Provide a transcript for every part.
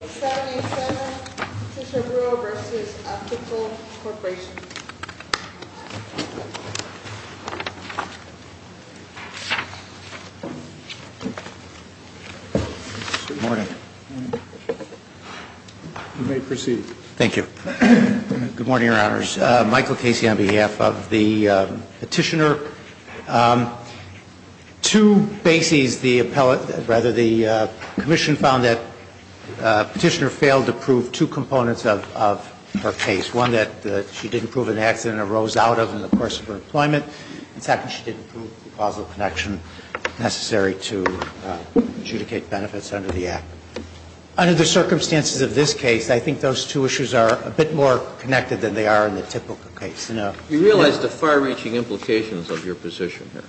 Good morning. You may proceed. Thank you. Good morning, Your Honors. Michael Casey on behalf of the Court of Appeals, I would like to begin by saying that Petitioner failed to prove two components of her case. One, that she didn't prove an accident arose out of in the course of her employment. And second, she didn't prove the causal connection necessary to adjudicate benefits under the Act. Under the circumstances of this case, I think those two issues are a bit more connected than they are in the typical case. You realize the far-reaching implications of your position here?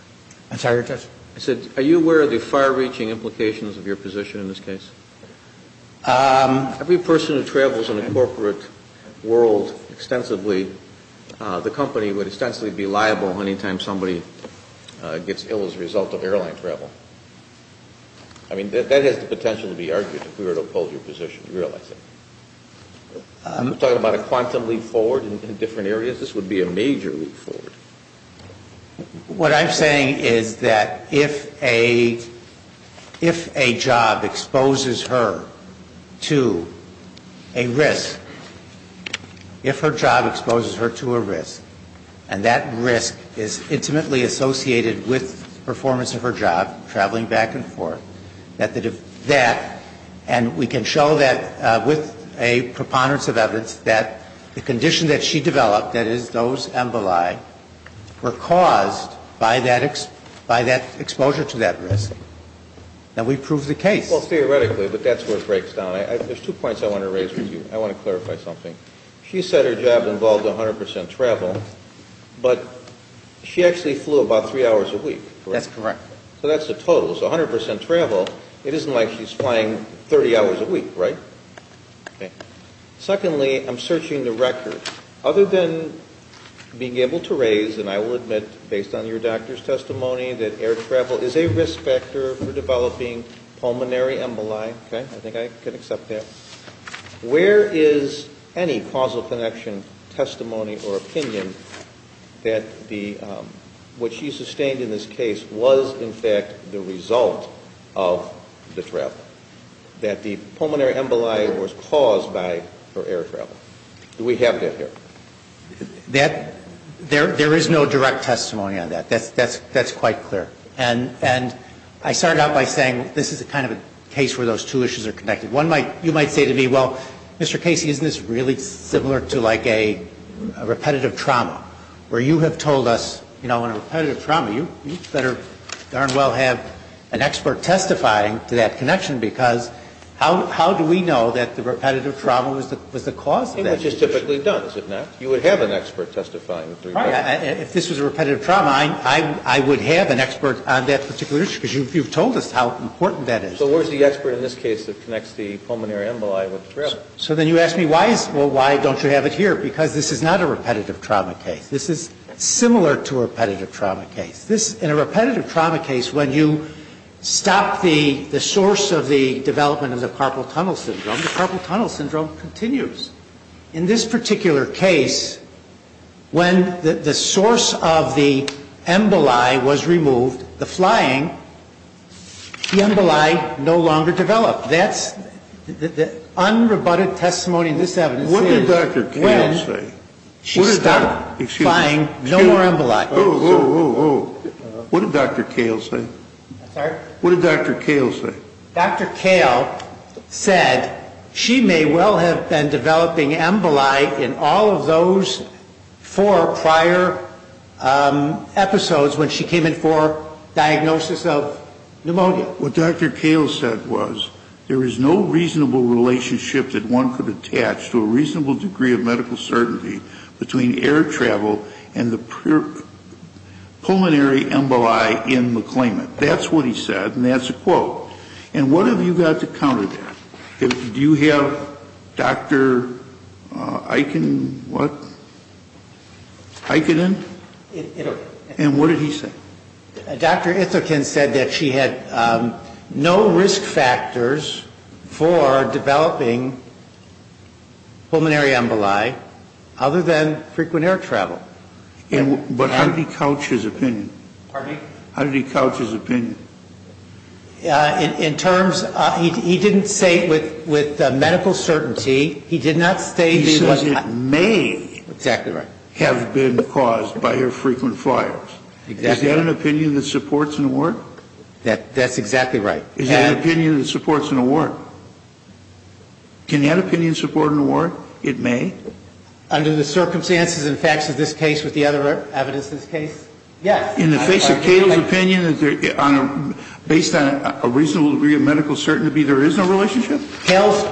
I'm sorry, Your Honor. I said, are you aware of the far-reaching implications of your position in this case? Every person who travels in the corporate world extensively, the company would extensively be liable any time somebody gets ill as a result of airline travel. I mean, that has the potential to be argued if we were to oppose your position. You realize that? I'm talking about a quantum leap forward in different areas. This would be a major leap forward. What I'm saying is that if a job exposes her to a risk, if her job exposes her to a risk and that risk is intimately associated with performance of her job, traveling back and forth, that the condition that she developed, that is, those emboli, were caused by that exposure to that risk, then we prove the case. Well, theoretically, but that's where it breaks down. There's two points I want to raise with you. I want to clarify something. She said her job involved 100 percent travel, but she actually flew about three hours a week, correct? That's correct. So that's the total. So 100 percent travel, it isn't like she's flying 30 hours a week, right? Okay. Secondly, I'm searching the record. Other than being able to raise, and I will admit based on your doctor's testimony that air travel is a risk factor for developing pulmonary emboli, okay, I think I can accept that, where is any causal connection, testimony, or opinion that what she sustained in this case was, in fact, the result of the travel, that the pulmonary emboli was caused by her air travel? Do we have that here? There is no direct testimony on that. That's quite clear. And I start out by saying this is kind of a case where those two issues are connected. One might, you might say to me, well, Mr. Casey, isn't this really similar to like a repetitive trauma, where you have told us, you know, in a repetitive trauma, you better darn well have an expert testifying to that connection, because how do we know that the repetitive trauma was the cause of that issue? It was just typically done, is it not? You would have an expert testifying. If this was a repetitive trauma, I would have an expert on that particular issue, because you've told us how important that is. So where is the expert in this case that connects the pulmonary emboli with the travel? So then you ask me, well, why don't you have it here? Because this is not a repetitive trauma case. This is similar to a repetitive trauma case. In a repetitive trauma case, when you stop the source of the development of the carpal tunnel syndrome, the carpal tunnel syndrome continues. In this particular case, when the source of the emboli was removed, the flying, the emboli no longer developed. That's the unrebutted testimony in this evidence is when she stopped flying, no more emboli. Whoa, whoa, whoa, whoa. What did Dr. Kahle say? I'm sorry? What did Dr. Kahle say? Dr. Kahle said she may well have been developing emboli in all of those four prior episodes when she came in for diagnosis of pneumonia. What Dr. Kahle said was there is no reasonable relationship that one could attach to a pulmonary emboli in the claimant. That's what he said, and that's a quote. And what have you got to counter that? Do you have Dr. Eichen, what? Eichen? Ithokin. And what did he say? Dr. Ithokin said that she had no risk factors for developing pulmonary emboli other than frequent air travel. But how did he couch his opinion? Pardon me? How did he couch his opinion? In terms, he didn't say it with medical certainty. He did not state it was not. He says it may have been caused by her frequent flyers. Exactly. Is that an opinion that supports an award? That's exactly right. Is that an opinion that supports an award? Can that opinion support an award? It may? Under the circumstances and facts of this case with the other evidence in this case? Yes. In the face of Kahle's opinion, based on a reasonable degree of medical certainty, there is no relationship? Kahle's,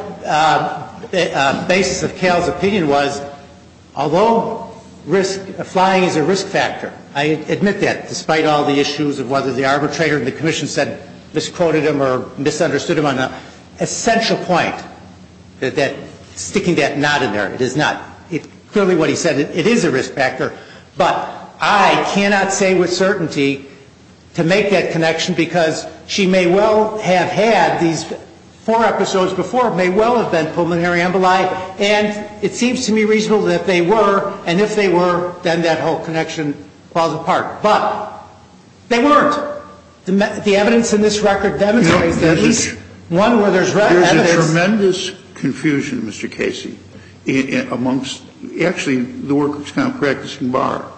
the basis of Kahle's opinion was, although risk, flying is a risk factor, I admit that, despite all the issues of whether the arbitrator and the commission said, misquoted him or misunderstood him on an essential point, that sticking that not in there, it is not, clearly what he said, it is a risk factor, but I cannot say with certainty to make that connection because she may well have had these four episodes before, may well have been pulmonary emboli, and it seems to me reasonable that they were, and if they were, then that whole connection falls apart. But they weren't. The evidence in this record demonstrates that at least one where there's evidence. There's a tremendous confusion, Mr. Casey, amongst, actually, the workers practicing BAR.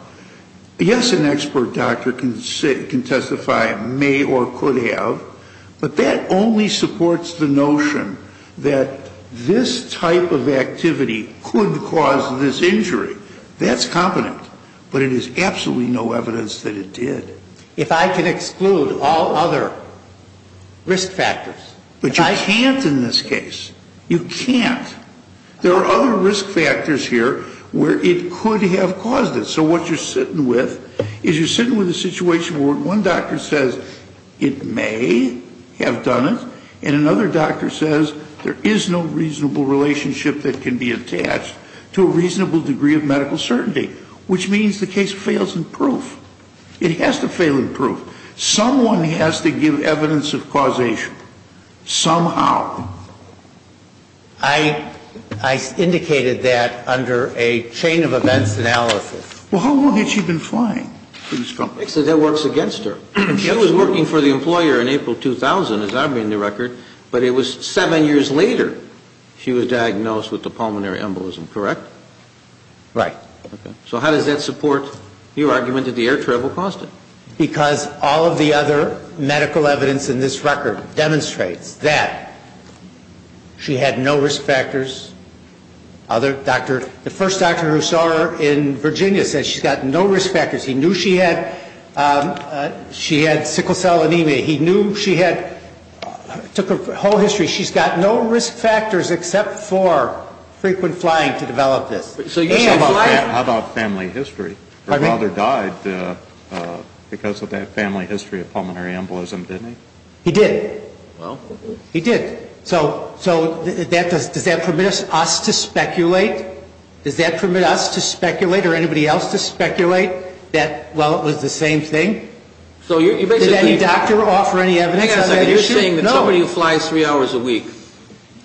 Yes, an expert doctor can testify, may or could have, but that only supports the notion that this type of activity could cause this injury. That's competent, but it is absolutely no evidence that it did. If I can exclude all other risk factors. But you can't in this case. You can't. There are other risk factors here where it could have caused it. So what you're sitting with is you're sitting with a situation where one doctor says it may have done it, and another doctor says there is no reasonable relationship that can be attached to a reasonable degree of medical certainty, which means the case fails in proof. It has to fail in proof. Someone has to give evidence of causation somehow. I indicated that under a chain of events analysis. Well, how long had she been flying for this company? So that works against her. She was working for the employer in April 2000, as I read in the record, but it was seven years later she was diagnosed with a pulmonary embolism, correct? Right. Okay. So how does that support your argument that the air travel caused it? Because all of the other medical evidence in this record demonstrates that she had no risk factors. The first doctor who saw her in Virginia said she's got no risk factors. He knew she had sickle cell anemia. He knew she had, took her whole history. She's got no risk factors except for frequent flying to develop this. How about family history? Her father died because of that family history of pulmonary embolism, didn't he? He did. He did. So does that permit us to speculate? Does that permit us to speculate or anybody else to speculate that, well, it was the same thing? So you're basically Did any doctor offer any evidence on that issue? No. You're saying that somebody who flies three hours a week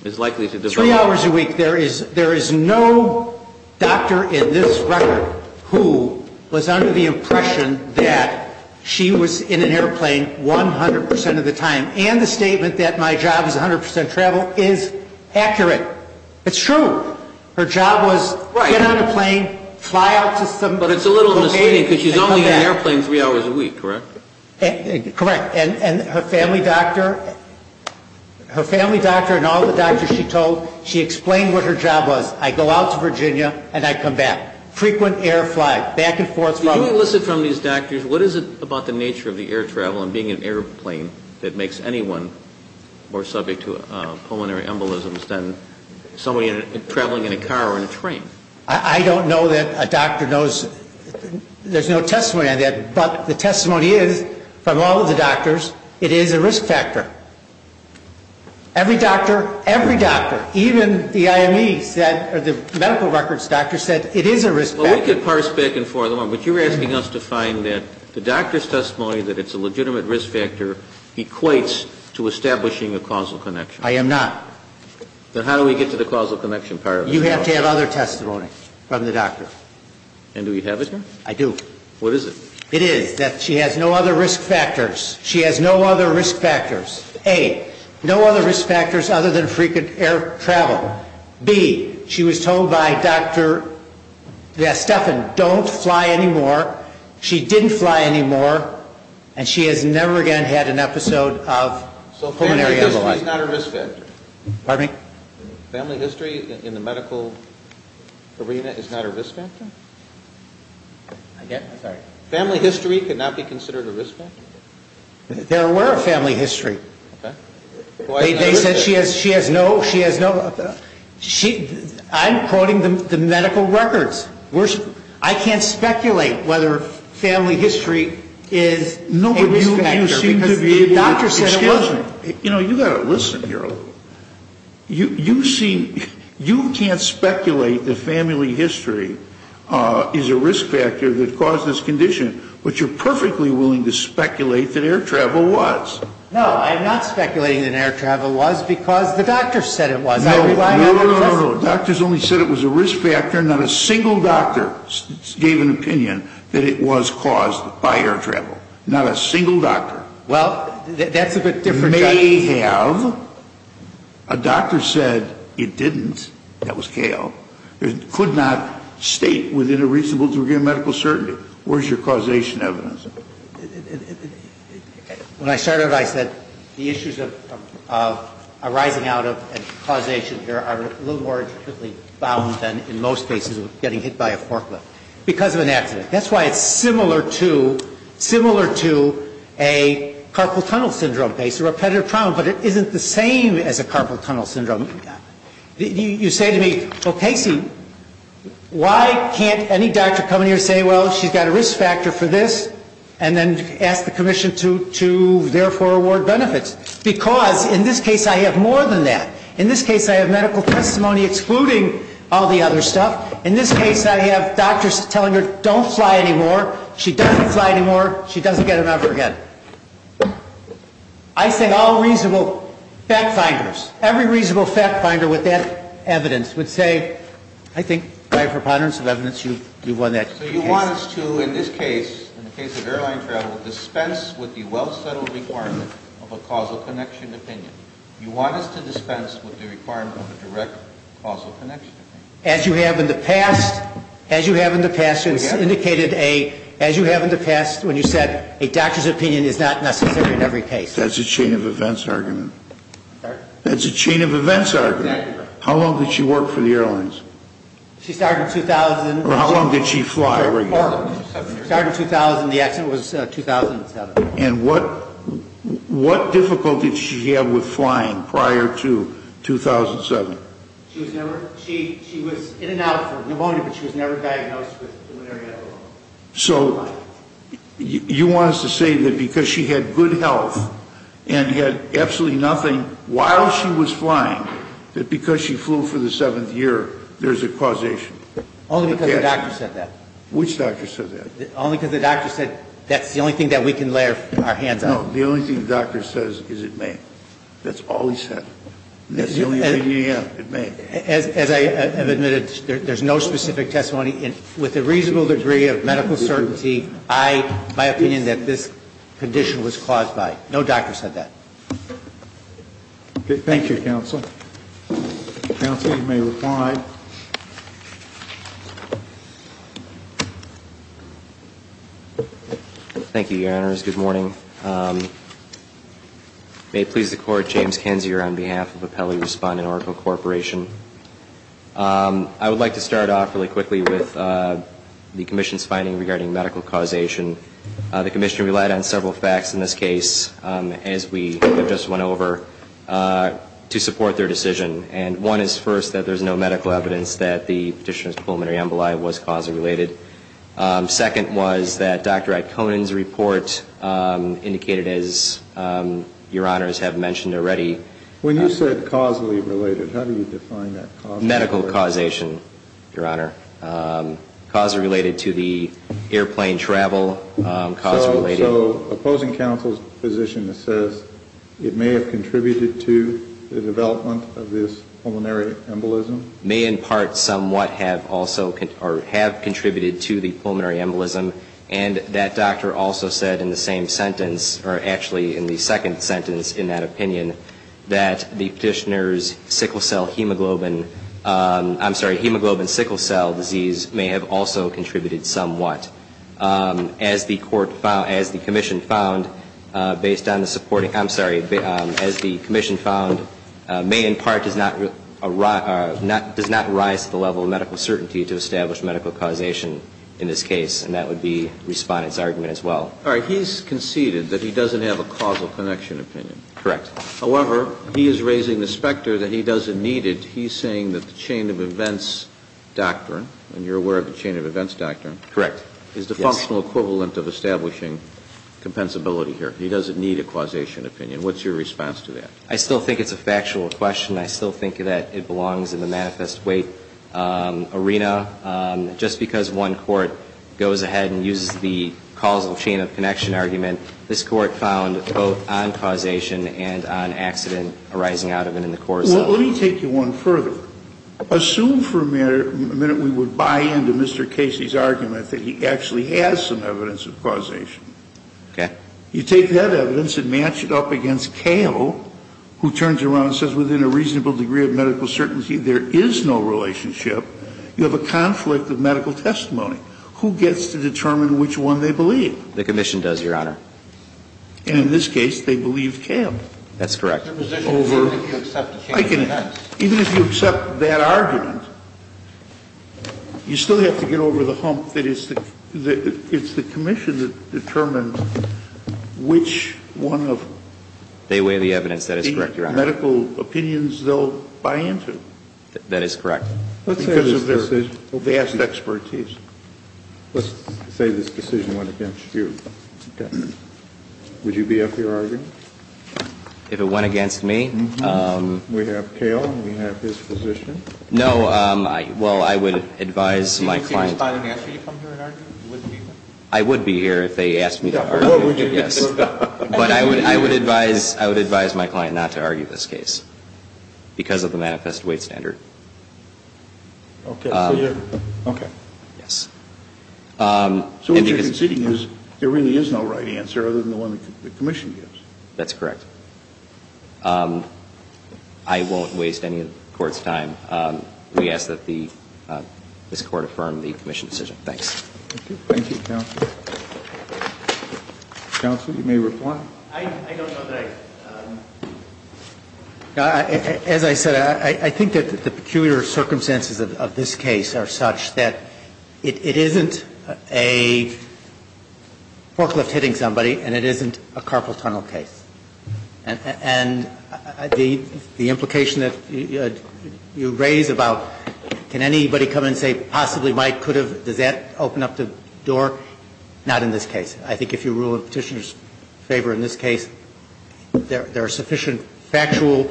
is likely to develop Three hours a week. There is no doctor in this record who was under the impression that she was in an airplane 100% of the time. And the statement that my job is 100% travel is accurate. It's true. Her job was Right. Get on a plane, fly out to some But it's a little misleading because she's only in an airplane three hours a week, correct? Correct. And her family doctor, her family doctor and all the doctors she told, she explained what her job was. I go out to Virginia and I come back. Frequent air flight, back and forth Did you listen from these doctors, what is it about the nature of the air travel and being in an airplane that makes anyone more subject to pulmonary embolisms than somebody traveling in a car or in a train? I don't know that a doctor knows. There's no testimony on that. But the testimony is from all of the doctors, it is a risk factor. Every doctor, every doctor, even the IME said, or the medical records doctor said, it is a risk factor. Well, we could parse back and forth, but you're asking us to find that the doctor's testimony that it's a legitimate risk factor equates to establishing a causal connection. I am not. Then how do we get to the causal connection part of it? You have to have other testimony from the doctor. And do you have it? I do. What is it? It is that she has no other risk factors. She has no other risk factors. A, no other risk factors other than frequent air travel. B, she was told by Dr. Estefan, don't fly anymore. She didn't fly anymore. And she has never again had an episode of pulmonary embolism. Family history is not a risk factor? Pardon me? Family history in the medical arena is not a risk factor? I'm sorry. Family history could not be considered a risk factor? There were a family history. Okay. They said she has no, she has no, I'm quoting the medical records. I can't speculate whether family history is a risk factor. You know, you've got to listen here a little bit. You can't speculate that family history is a risk factor that caused this condition, but you're perfectly willing to speculate that air travel was. No, I'm not speculating that air travel was because the doctor said it was. No, no, no. Doctors only said it was a risk factor. Not a single doctor gave an opinion that it was caused by air travel. Not a single doctor. Well, that's a bit different. May have. A doctor said it didn't. That was K.O. It could not state within a reasonable degree of medical certainty. Where's your causation evidence? When I started, I said the issues of arising out of a causation here are a little more than in most cases of getting hit by a forklift because of an accident. That's why it's similar to, similar to a carpal tunnel syndrome case, a repetitive problem, but it isn't the same as a carpal tunnel syndrome. You say to me, well, Casey, why can't any doctor come in here and say, well, she's got a risk factor for this, and then ask the commission to therefore award benefits? Because, in this case, I have more than that. In this case, I have medical testimony excluding all the other stuff. In this case, I have doctors telling her, don't fly anymore. She doesn't fly anymore. She doesn't get an offer again. I say all reasonable fact finders, every reasonable fact finder with that evidence would say, I think by preponderance of evidence, you've won that case. So you want us to, in this case, in the case of airline travel, dispense with the well-settled requirement of a causal connection opinion. You want us to dispense with the requirement of a direct causal connection opinion. As you have in the past, as you have in the past, it's indicated a, as you have in the past, when you said a doctor's opinion is not necessary in every case. That's a chain of events argument. Sorry? That's a chain of events argument. Exactly right. How long did she work for the airlines? She started in 2000. Or how long did she fly regularly? Started in 2000. The accident was 2007. And what difficulty did she have with flying prior to 2007? She was in and out for pneumonia, but she was never diagnosed with pulmonary edema. So you want us to say that because she had good health and had absolutely nothing while she was flying, that because she flew for the seventh year, there's a causation? Only because the doctor said that. Which doctor said that? Only because the doctor said that's the only thing that we can lay our hands on. No. The only thing the doctor says is it may. That's all he said. That's the only opinion you have. It may. As I have admitted, there's no specific testimony. With a reasonable degree of medical certainty, I, my opinion that this condition was caused by. No doctor said that. Thank you, counsel. Counsel, you may reply. Thank you, your honors. Good morning. May it please the court, James Kinzier on behalf of Apelli Respondent Oracle Corporation. I would like to start off really quickly with the commission's finding regarding medical causation. The commission relied on several facts in this case as we have just went over to support their decision. And one is first that there's no medical evidence. There's no medical evidence that the petitioner's pulmonary emboli was causally related. Second was that Dr. Atconin's report indicated as your honors have mentioned already. When you said causally related, how do you define that causally related? Medical causation, your honor. Cause related to the airplane travel, cause related. So opposing counsel's position that says it may have contributed to the development of this pulmonary embolism? May in part somewhat have also or have contributed to the pulmonary embolism. And that doctor also said in the same sentence or actually in the second sentence in that opinion that the petitioner's sickle cell hemoglobin, I'm sorry, hemoglobin sickle cell disease may have also contributed somewhat. As the commission found based on the supporting, I'm sorry, as the commission found, may in part does not arise at the level of medical certainty to establish medical causation in this case. And that would be Respondent's argument as well. All right. He's conceded that he doesn't have a causal connection opinion. Correct. However, he is raising the specter that he doesn't need it. He's saying that the chain of events doctrine, and you're aware of the chain of events doctrine, is the functional equivalent of establishing compensability here. He doesn't need a causation opinion. What's your response to that? I still think it's a factual question. I still think that it belongs in the manifest weight arena. Just because one court goes ahead and uses the causal chain of connection argument, this Court found both on causation and on accident arising out of it in the court itself. Well, let me take you one further. Assume for a minute we would buy into Mr. Casey's argument that he actually has some evidence of causation. Okay. You take that evidence and match it up against Kale, who turns around and says within a reasonable degree of medical certainty there is no relationship. You have a conflict of medical testimony. Who gets to determine which one they believe? The commission does, Your Honor. And in this case, they believe Kale. That's correct. Even if you accept that argument, you still have to get over the hump that it's the commission that determines which one of the medical opinions they'll buy into. That is correct. Because of their vast expertise. Let's say this decision went against you. Would you be up for your argument? If it went against me? We have Kale. We have his position. No. Well, I would advise my client. I would be here if they asked me to argue. Yes. But I would advise my client not to argue this case because of the manifest weight standard. Okay. Yes. So what you're conceding is there really is no right answer other than the one the commission gives. That's correct. I won't waste any of the Court's time. We ask that this Court affirm the commission's decision. Thanks. Thank you, counsel. Counsel, you may reply. I don't know that I, as I said, I think that the peculiar circumstances of this case are such that it isn't a forklift hitting somebody and it isn't a carpal tunnel case. And the implication that you raise about can anybody come in and say possibly might, could have, does that open up the door? Not in this case. I think if you rule in Petitioner's favor in this case, there are sufficient factual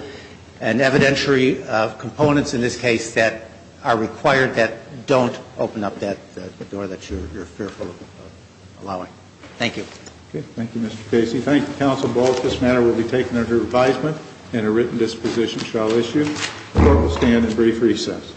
and evidentiary components in this case that are required that don't open up that door that you're fearful of allowing. Thank you. Thank you, Mr. Casey. Thank you, counsel. This matter will be taken under advisement and a written disposition shall issue. The Court will stand in brief recess.